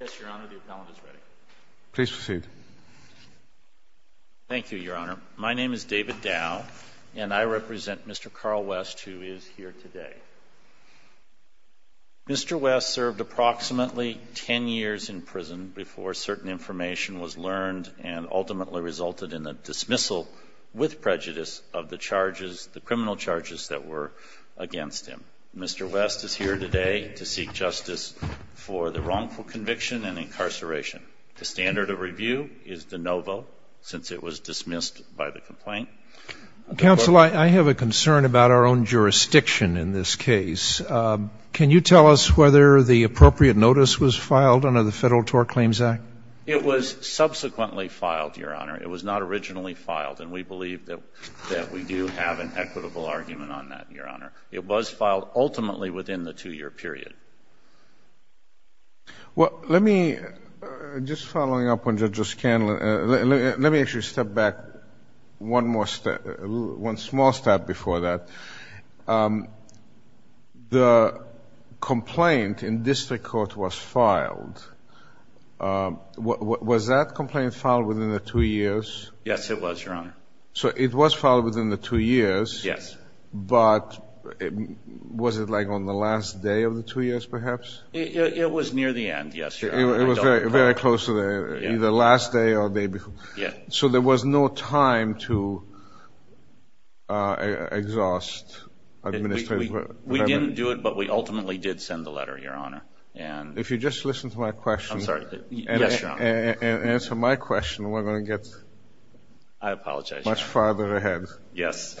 Yes, Your Honor, the appellant is ready. Please proceed. Thank you, Your Honor. My name is David Dow, and I represent Mr. Carl West, who is here today. Mr. West served approximately 10 years in prison before certain information was learned and ultimately resulted in the dismissal, with prejudice, of the charges, the criminal charges that were against him. Mr. West is here today to seek justice for the wrongful conviction and incarceration. The standard of review is de novo, since it was dismissed by the complaint. Counsel, I have a concern about our own jurisdiction in this case. Can you tell us whether the appropriate notice was filed under the Federal Tort Claims Act? It was subsequently filed, Your Honor. It was not originally filed, and we believe that we do have an equitable argument on that, Your Honor. It was filed ultimately within the two-year period. Well, let me, just following up on Judge O'Scanlon, let me actually step back one small step before that. The complaint in district court was filed. Was that complaint filed within the two years? Yes, it was, Your Honor. So it was filed within the two years. Yes. But was it, like, on the last day of the two years, perhaps? It was near the end, yes, Your Honor. It was very close to the end, either the last day or the day before. Yeah. So there was no time to exhaust administration. We didn't do it, but we ultimately did send the letter, Your Honor. If you just listen to my question and answer my question, we're going to get much farther ahead. Yes.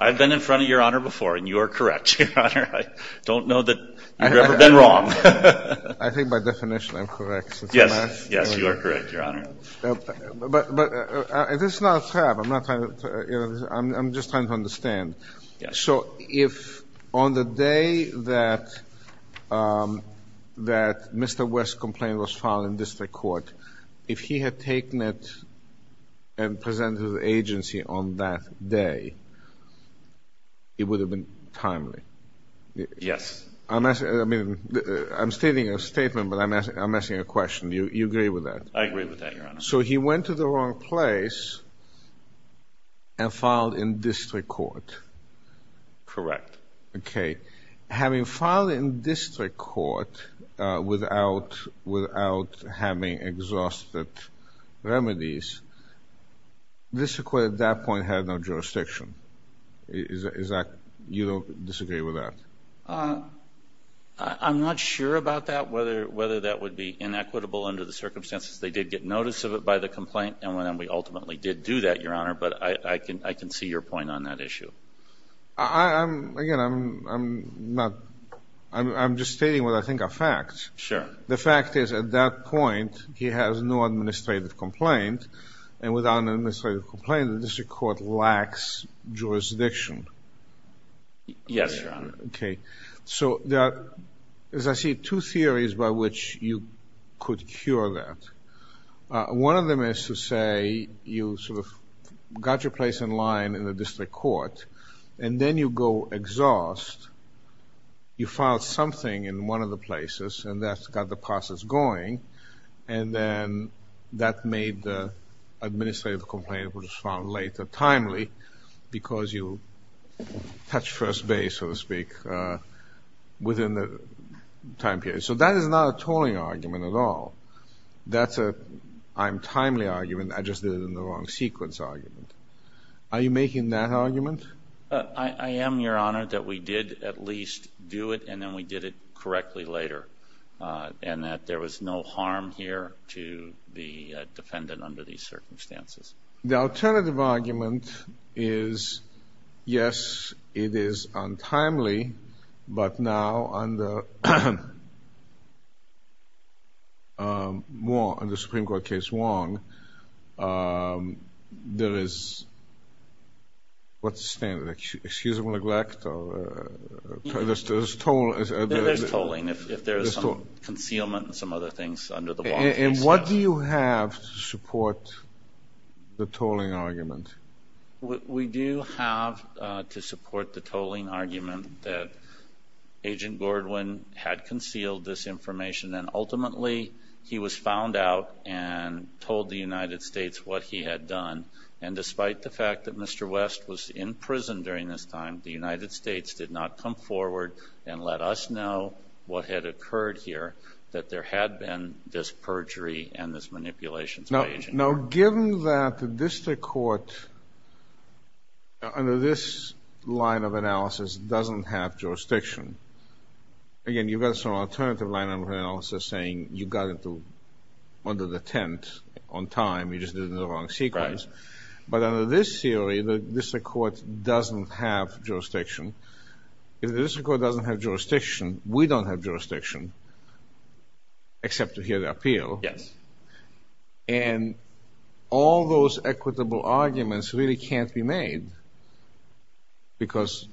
I've been in front of Your Honor before, and you are correct, Your Honor. I don't know that you've ever been wrong. I think by definition I'm correct. Yes, yes, you are correct, Your Honor. But this is not a trap. I'm just trying to understand. So if on the day that Mr. West's complaint was filed in district court, if he had taken it and presented it to the agency on that day, it would have been timely. Yes. I'm stating a statement, but I'm asking a question. Do you agree with that? I agree with that, Your Honor. So he went to the wrong place and filed in district court. Correct. Okay. Having filed in district court without having exhausted remedies, this court at that point had no jurisdiction. You don't disagree with that? I'm not sure about that, whether that would be inequitable under the circumstances. They did get notice of it by the complaint, and we ultimately did do that, Your Honor. But I can see your point on that issue. Again, I'm just stating what I think are facts. Sure. The fact is, at that point, he has no administrative complaint, and without an administrative complaint, the district court lacks jurisdiction. Yes, Your Honor. Okay. So there are, as I see, two theories by which you could cure that. One of them is to say you sort of got your place in line in the district court, and then you go exhaust. You filed something in one of the places, and that's got the process going, and then that made the administrative complaint, which was filed later, timely, because you touched first base, so to speak, within the time period. So that is not a tolling argument at all. That's an I'm timely argument. I just did it in the wrong sequence argument. Are you making that argument? I am, Your Honor, that we did at least do it, and then we did it correctly later, and that there was no harm here to the defendant under these circumstances. The alternative argument is, yes, it is untimely, but now under the Supreme Court case Wong, there is, what's the standard, excusable neglect or there's tolling. There's tolling if there's some concealment and some other things under the Wong case. And what do you have to support the tolling argument? We do have to support the tolling argument that Agent Gordwin had concealed this information, and ultimately he was found out and told the United States what he had done, and despite the fact that Mr. West was in prison during this time, the United States did not come forward and let us know what had occurred here, that there had been this perjury and this manipulation by Agent Gordwin. Now, given that the district court under this line of analysis doesn't have jurisdiction, again, you've got some alternative line of analysis saying you got under the tent on time. You just did it in the wrong sequence. But under this theory, the district court doesn't have jurisdiction. If the district court doesn't have jurisdiction, we don't have jurisdiction except to hear the appeal. Yes. And all those equitable arguments really can't be made because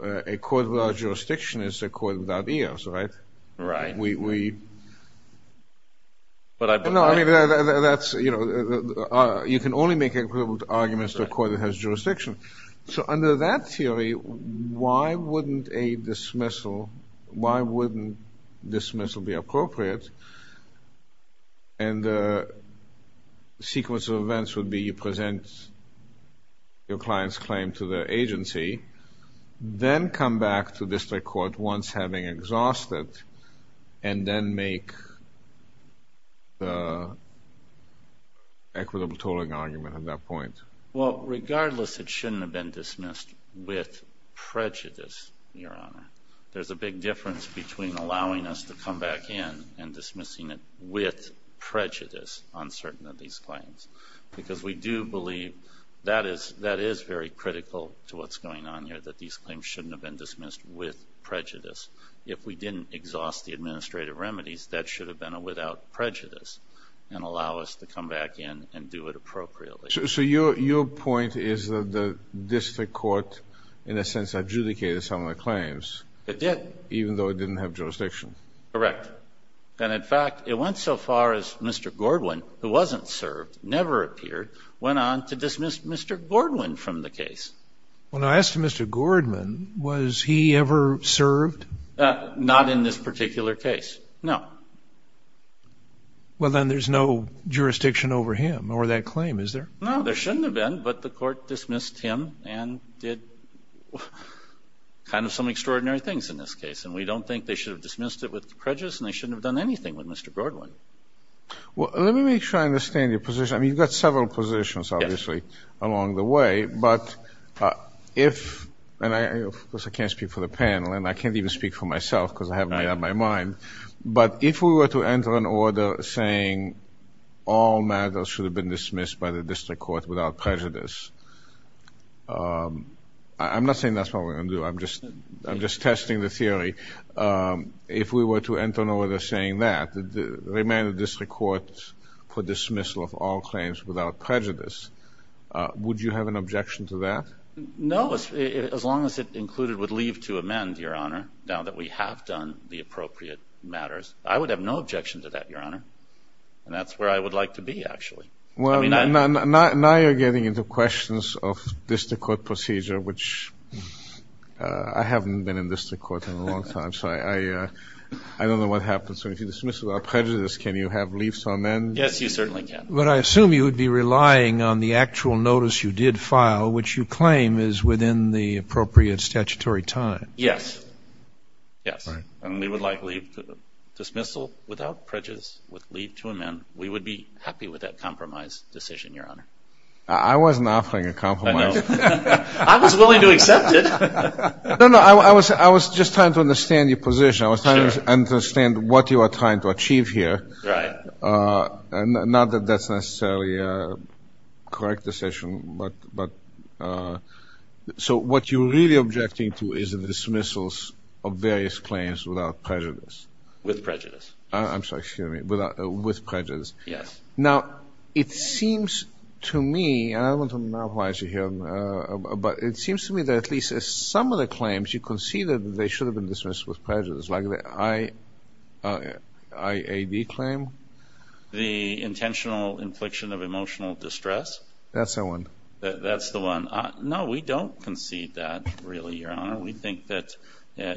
a court without jurisdiction is a court without ears, right? Right. No, I mean, that's, you know, you can only make equitable arguments to a court that has jurisdiction. So under that theory, why wouldn't a dismissal, why wouldn't dismissal be appropriate? And the sequence of events would be you present your client's claim to the agency, then come back to district court once having exhausted, and then make the equitable tolling argument at that point. Well, regardless, it shouldn't have been dismissed with prejudice, Your Honor. There's a big difference between allowing us to come back in and dismissing it with prejudice on certain of these claims because we do believe that is very critical to what's going on here, that these claims shouldn't have been dismissed with prejudice. If we didn't exhaust the administrative remedies, that should have been a without prejudice and allow us to come back in and do it appropriately. So your point is that the district court, in a sense, adjudicated some of the claims. It did. Even though it didn't have jurisdiction. Correct. And, in fact, it went so far as Mr. Gordwin, who wasn't served, never appeared, went on to dismiss Mr. Gordwin from the case. When I asked Mr. Gordwin, was he ever served? Not in this particular case, no. Well, then there's no jurisdiction over him or that claim, is there? No, there shouldn't have been, but the court dismissed him and did kind of some extraordinary things in this case. And we don't think they should have dismissed it with prejudice and they shouldn't have done anything with Mr. Gordwin. Well, let me make sure I understand your position. I mean, you've got several positions, obviously, along the way. But if, and of course I can't speak for the panel, and I can't even speak for myself because I haven't made up my mind, but if we were to enter an order saying all matters should have been dismissed by the district court without prejudice, I'm not saying that's what we're going to do. I'm just testing the theory. If we were to enter an order saying that, remand the district court for dismissal of all claims without prejudice, would you have an objection to that? Now that we have done the appropriate matters, I would have no objection to that, Your Honor. And that's where I would like to be, actually. Well, now you're getting into questions of district court procedure, which I haven't been in district court in a long time, so I don't know what happens. So if you dismiss it without prejudice, can you have leafs on end? Yes, you certainly can. But I assume you would be relying on the actual notice you did file, which you claim is within the appropriate statutory time. Yes. Yes. And we would like dismissal without prejudice with leaf to amend. We would be happy with that compromise decision, Your Honor. I wasn't offering a compromise. I know. I was willing to accept it. No, no. I was just trying to understand your position. I was trying to understand what you are trying to achieve here. Right. Not that that's necessarily a correct decision, but so what you're really objecting to is the dismissals of various claims without prejudice. With prejudice. I'm sorry. Excuse me. With prejudice. Yes. Now, it seems to me, and I don't want to monopolize you here, but it seems to me that at least some of the claims you conceded, they should have been dismissed with prejudice, like the IAD claim. The Intentional Infliction of Emotional Distress. That's the one. That's the one. No, we don't concede that, really, Your Honor. We think that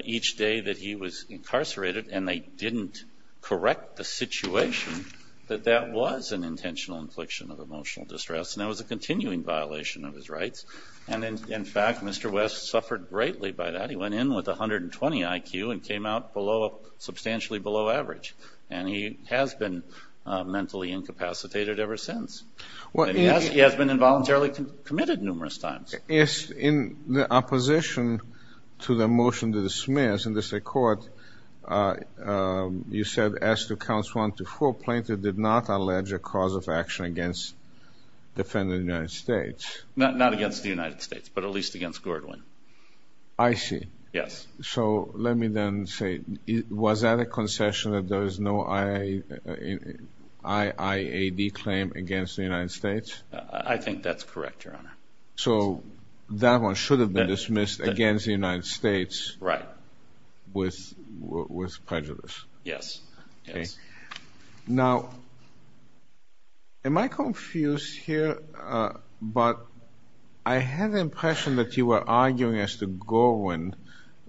each day that he was incarcerated and they didn't correct the situation that that was an intentional infliction of emotional distress, and that was a continuing violation of his rights. And, in fact, Mr. West suffered greatly by that. He went in with 120 IQ and came out substantially below average, and he has been mentally incapacitated ever since. And he has been involuntarily committed numerous times. Yes. In the opposition to the motion to dismiss in the state court, you said as to Counts 1 to 4, Plaintiff did not allege a cause of action against defendant of the United States. Not against the United States, but at least against Gordwin. I see. Yes. So let me then say, was that a concession that there is no IAD claim against the United States? I think that's correct, Your Honor. So that one should have been dismissed against the United States. Right. With prejudice. Yes. Okay. Now, am I confused here? But I had the impression that you were arguing as to Gordwin,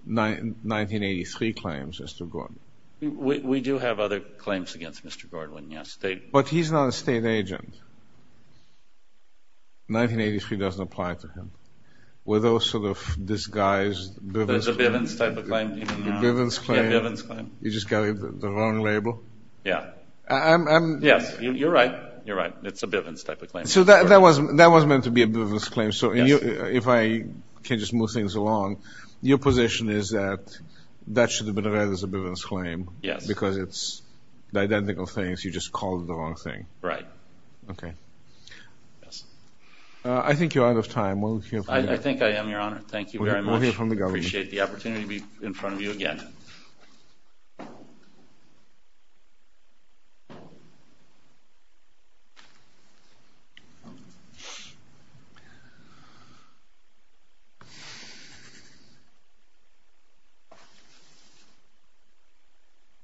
1983 claims as to Gordwin. We do have other claims against Mr. Gordwin, yes. But he's not a state agent. 1983 doesn't apply to him. Were those sort of disguised Bivens claims? There's a Bivens type of claim even now. A Bivens claim? Yeah, a Bivens claim. You just got the wrong label? Yeah. Yes, you're right. You're right. It's a Bivens type of claim. So that was meant to be a Bivens claim. So if I can just move things along, your position is that that should have been read as a Bivens claim. Yes. Because it's the identical things. You just called it the wrong thing. Right. Okay. Yes. I think I am, Your Honor. Thank you very much. We'll hear from the government. I appreciate the opportunity to be in front of you again.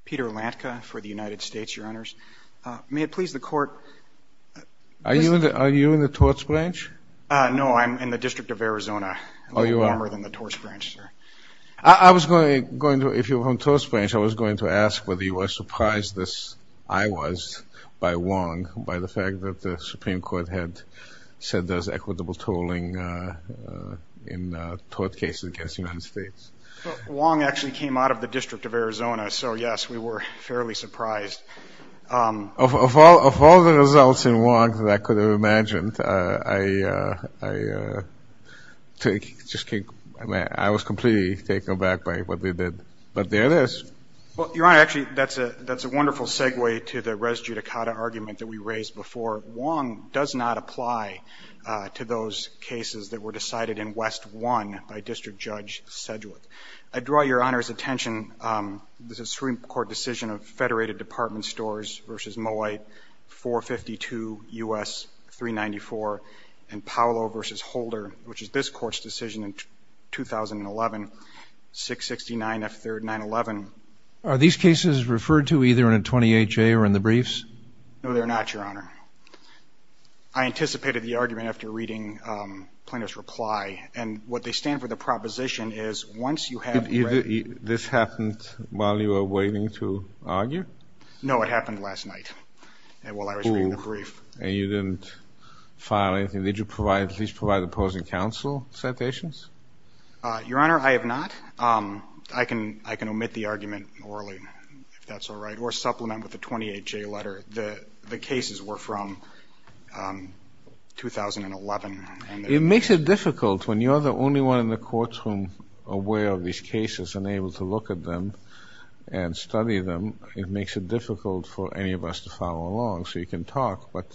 Peter Lantka for the United States, Your Honors. May it please the Court. Are you in the torts branch? No, I'm in the District of Arizona. I'm a little warmer than the torts branch, sir. I was going to ask whether you were surprised, as I was, by Wong, by the fact that the Supreme Court had said there's equitable tolling in tort cases against the United States. Well, Wong actually came out of the District of Arizona, so, yes, we were fairly surprised. Of all the results in Wong that I could have imagined, I was completely taken aback by what they did. But there it is. Well, Your Honor, actually, that's a wonderful segue to the res judicata argument that we raised before. Wong does not apply to those cases that were decided in West 1 by District Judge Sedgwick. I draw Your Honor's attention to the Supreme Court decision of Federated Department Stores v. Mowight, 452 U.S. 394, and Paolo v. Holder, which is this Court's decision in 2011, 669 F. 3rd 911. Are these cases referred to either in a 28-J or in the briefs? No, they're not, Your Honor. I anticipated the argument after reading Plaintiff's reply. And what they stand for, the proposition is once you have read it. This happened while you were waiting to argue? No, it happened last night while I was reading the brief. Oh, and you didn't file anything. Did you at least provide opposing counsel citations? Your Honor, I have not. I can omit the argument orally, if that's all right, or supplement with a 28-J letter. The cases were from 2011. It makes it difficult when you're the only one in the courtroom aware of these cases and able to look at them and study them. It makes it difficult for any of us to follow along. So you can talk, but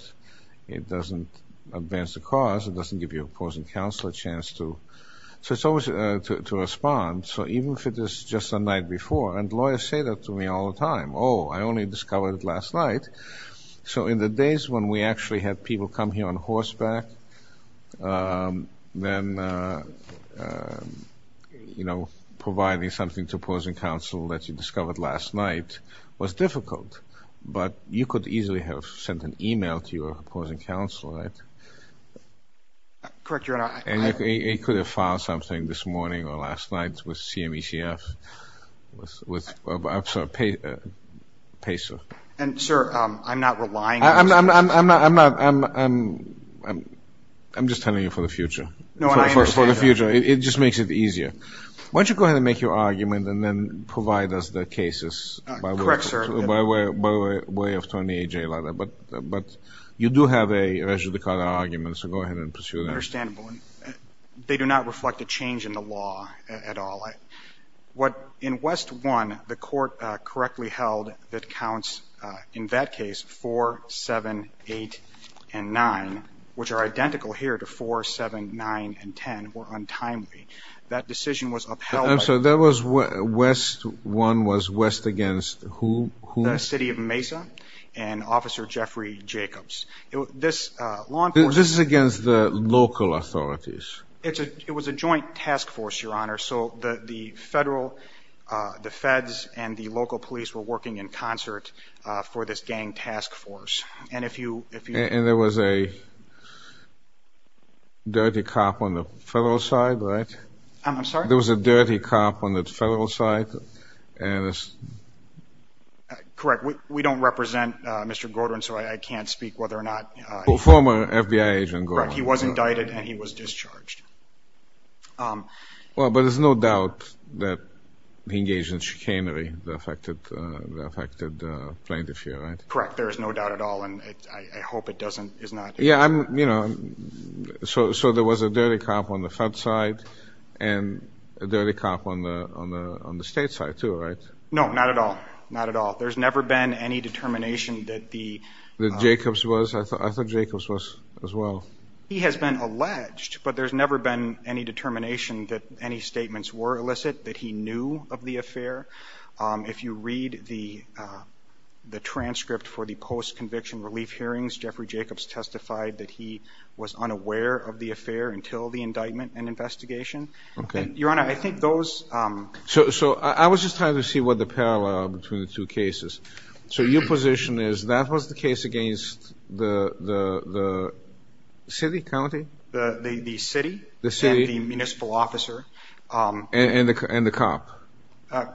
it doesn't advance the cause. It doesn't give your opposing counsel a chance to respond. So even if it is just the night before, and lawyers say that to me all the time, oh, I only discovered it last night. So in the days when we actually had people come here on horseback, then providing something to opposing counsel that you discovered last night was difficult. But you could easily have sent an e-mail to your opposing counsel, right? Correct, Your Honor. And you could have filed something this morning or last night with CMECF. I'm sorry, PACER. And, sir, I'm not relying on this. I'm not. I'm just telling you for the future. No, I understand. For the future. It just makes it easier. Why don't you go ahead and make your argument and then provide us the cases? Correct, sir. By way of a 28-J letter. But you do have a res judicata argument, so go ahead and pursue that. Understandable. They do not reflect a change in the law at all. In West 1, the court correctly held that counts, in that case, 4, 7, 8, and 9, which are identical here to 4, 7, 9, and 10, were untimely. That decision was upheld. I'm sorry. West 1 was west against who? The city of Mesa and Officer Jeffrey Jacobs. This is against the local authorities. It was a joint task force, Your Honor. So the federal, the feds, and the local police were working in concert for this gang task force. And there was a dirty cop on the federal side, right? I'm sorry? There was a dirty cop on the federal side? Correct. We don't represent Mr. Godron, so I can't speak whether or not he was. Former FBI agent Godron. Correct. He was indicted and he was discharged. Well, but there's no doubt that he engaged in chicanery that affected plaintiff here, right? Correct. There is no doubt at all, and I hope it doesn't, is not. Yeah, I'm, you know, so there was a dirty cop on the fed side and a dirty cop on the state side too, right? No, not at all. Not at all. There's never been any determination that the... That Jacobs was? I thought Jacobs was as well. He has been alleged, but there's never been any determination that any statements were illicit, that he knew of the affair. If you read the transcript for the post-conviction relief hearings, Jeffrey Jacobs testified that he was unaware of the affair until the indictment and investigation. Your Honor, I think those... So I was just trying to see what the parallel between the two cases. So your position is that was the case against the city, county? The city. The city. And the municipal officer. And the cop.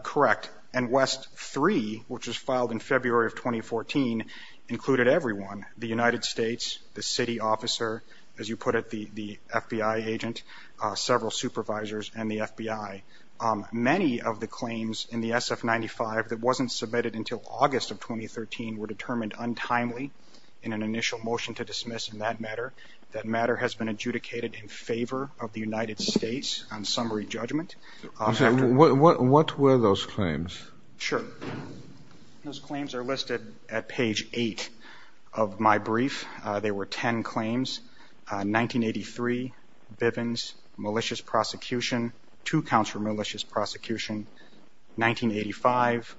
Correct. And West 3, which was filed in February of 2014, included everyone, the United States, the city officer, as you put it, the FBI agent, several supervisors, and the FBI. Many of the claims in the SF-95 that wasn't submitted until August of 2013 were determined untimely in an initial motion to dismiss in that matter. That matter has been adjudicated in favor of the United States on summary judgment. What were those claims? Sure. Those claims are listed at page 8 of my brief. They were 10 claims, 1983, Bivens, malicious prosecution, two counts for malicious prosecution, 1985,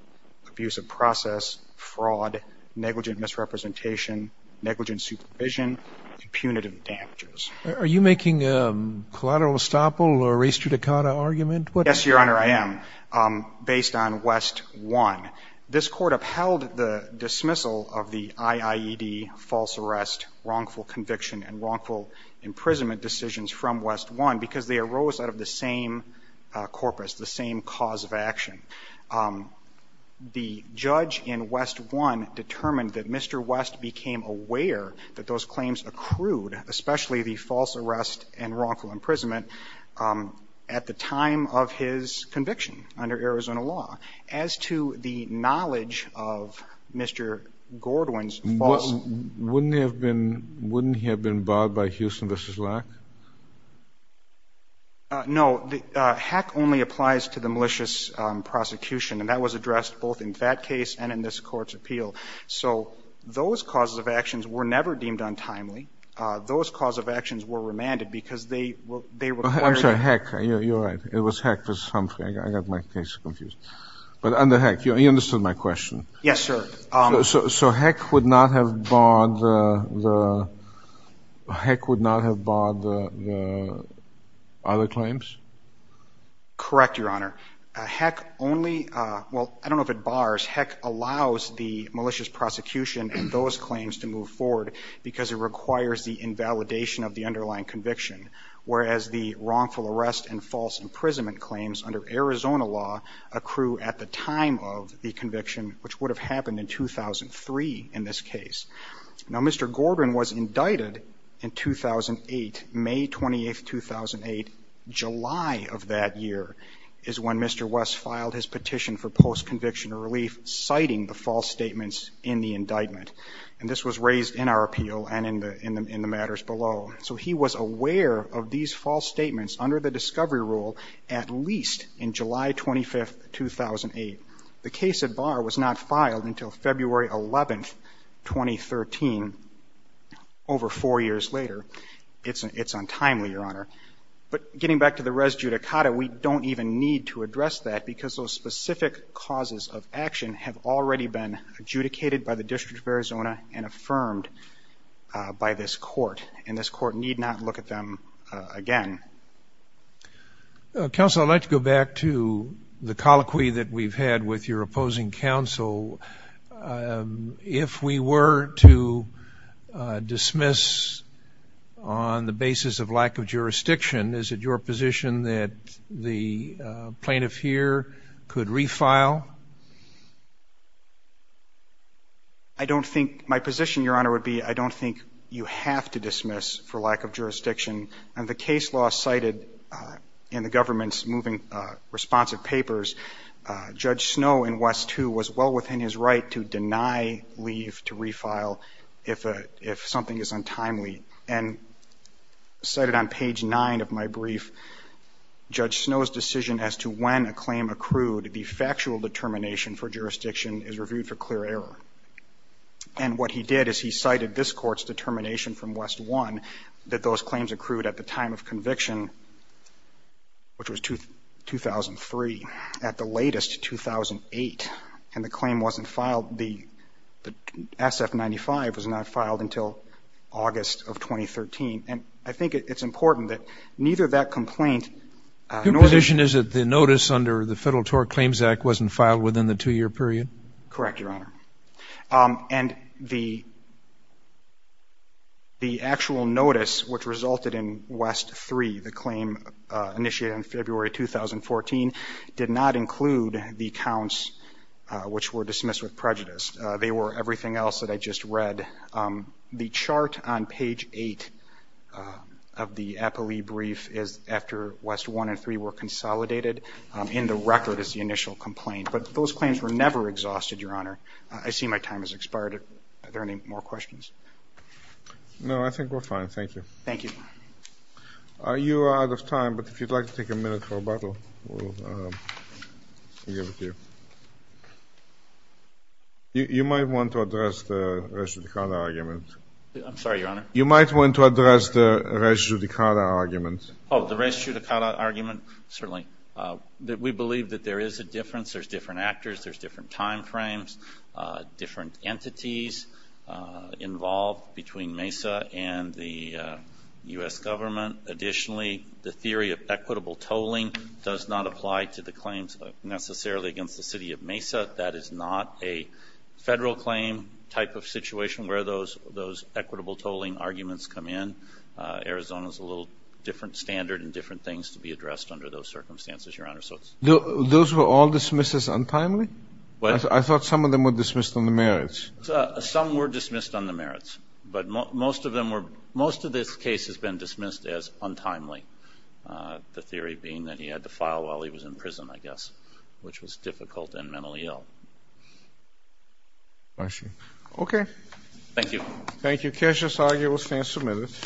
abuse of process, fraud, negligent misrepresentation, negligent supervision, and punitive damages. Are you making a collateral estoppel or res judicata argument? Yes, Your Honor, I am, based on West 1. This court upheld the dismissal of the IIED false arrest, wrongful conviction, and wrongful imprisonment decisions from West 1 because they arose out of the same corpus, the same cause of action. The judge in West 1 determined that Mr. West became aware that those claims accrued, especially the false arrest and wrongful imprisonment, at the time of his conviction under Arizona law. As to the knowledge of Mr. Gordwin's false arrest. Wouldn't he have been barred by Houston v. Locke? No. Hack only applies to the malicious prosecution, and that was addressed both in that case and in this court's appeal. So those causes of actions were never deemed untimely. Those causes of actions were remanded because they required. I'm sorry, hack. You're right. It was hack for something. I got my case confused. But under hack, you understood my question. Yes, sir. So hack would not have barred the other claims? Correct, Your Honor. Hack only, well, I don't know if it bars. Hack allows the malicious prosecution and those claims to move forward because it requires the invalidation of the underlying conviction. Whereas the wrongful arrest and false imprisonment claims under Arizona law accrue at the time of the conviction, which would have happened in 2003 in this case. Now, Mr. Gordwin was indicted in 2008, May 28, 2008. July of that year is when Mr. West filed his petition for post-conviction relief, citing the false statements in the indictment. And this was raised in our appeal and in the matters below. So he was aware of these false statements under the discovery rule at least in July 25, 2008. The case at bar was not filed until February 11, 2013, over four years later. It's untimely, Your Honor. But getting back to the res judicata, we don't even need to address that because those specific causes of action have already been dealt with and the court need not look at them again. Counsel, I'd like to go back to the colloquy that we've had with your opposing counsel. If we were to dismiss on the basis of lack of jurisdiction, is it your position that the plaintiff here could refile? I don't think my position, Your Honor, would be I don't think you have to dismiss for lack of jurisdiction. And the case law cited in the government's moving responsive papers, Judge Snow and West, too, was well within his right to deny leave to refile if something is untimely. And cited on page nine of my brief, Judge Snow's decision as to when a claim accrued, the factual determination for jurisdiction is reviewed for clear error. And what he did is he cited this court's determination from West 1 that those claims accrued at the time of conviction, which was 2003, at the latest, 2008, and the claim wasn't filed. The SF-95 was not filed until August of 2013. And I think it's important that neither that complaint nor the- The Claims Act wasn't filed within the two-year period? Correct, Your Honor. And the actual notice which resulted in West 3, the claim initiated in February 2014, did not include the counts which were dismissed with prejudice. They were everything else that I just read. The chart on page eight of the APALE brief is after West 1 and 3 were consolidated. In the record is the initial complaint. But those claims were never exhausted, Your Honor. I see my time has expired. Are there any more questions? No, I think we're fine. Thank you. Thank you. You are out of time, but if you'd like to take a minute for a bottle, we'll give it to you. You might want to address the res judicata argument. I'm sorry, Your Honor? You might want to address the res judicata argument. Oh, the res judicata argument? Certainly. We believe that there is a difference. There's different actors. There's different time frames, different entities involved between MESA and the U.S. government. Additionally, the theory of equitable tolling does not apply to the claims necessarily against the city of MESA. That is not a federal claim type of situation where those equitable tolling arguments come in. Arizona is a little different standard and different things to be addressed under those circumstances, Your Honor. Those were all dismisses untimely? I thought some of them were dismissed on the merits. Some were dismissed on the merits. But most of this case has been dismissed as untimely, the theory being that he had to file while he was in prison, I guess, which was difficult and mentally ill. I see. Okay. Thank you. Thank you. Cases argued will stand submitted.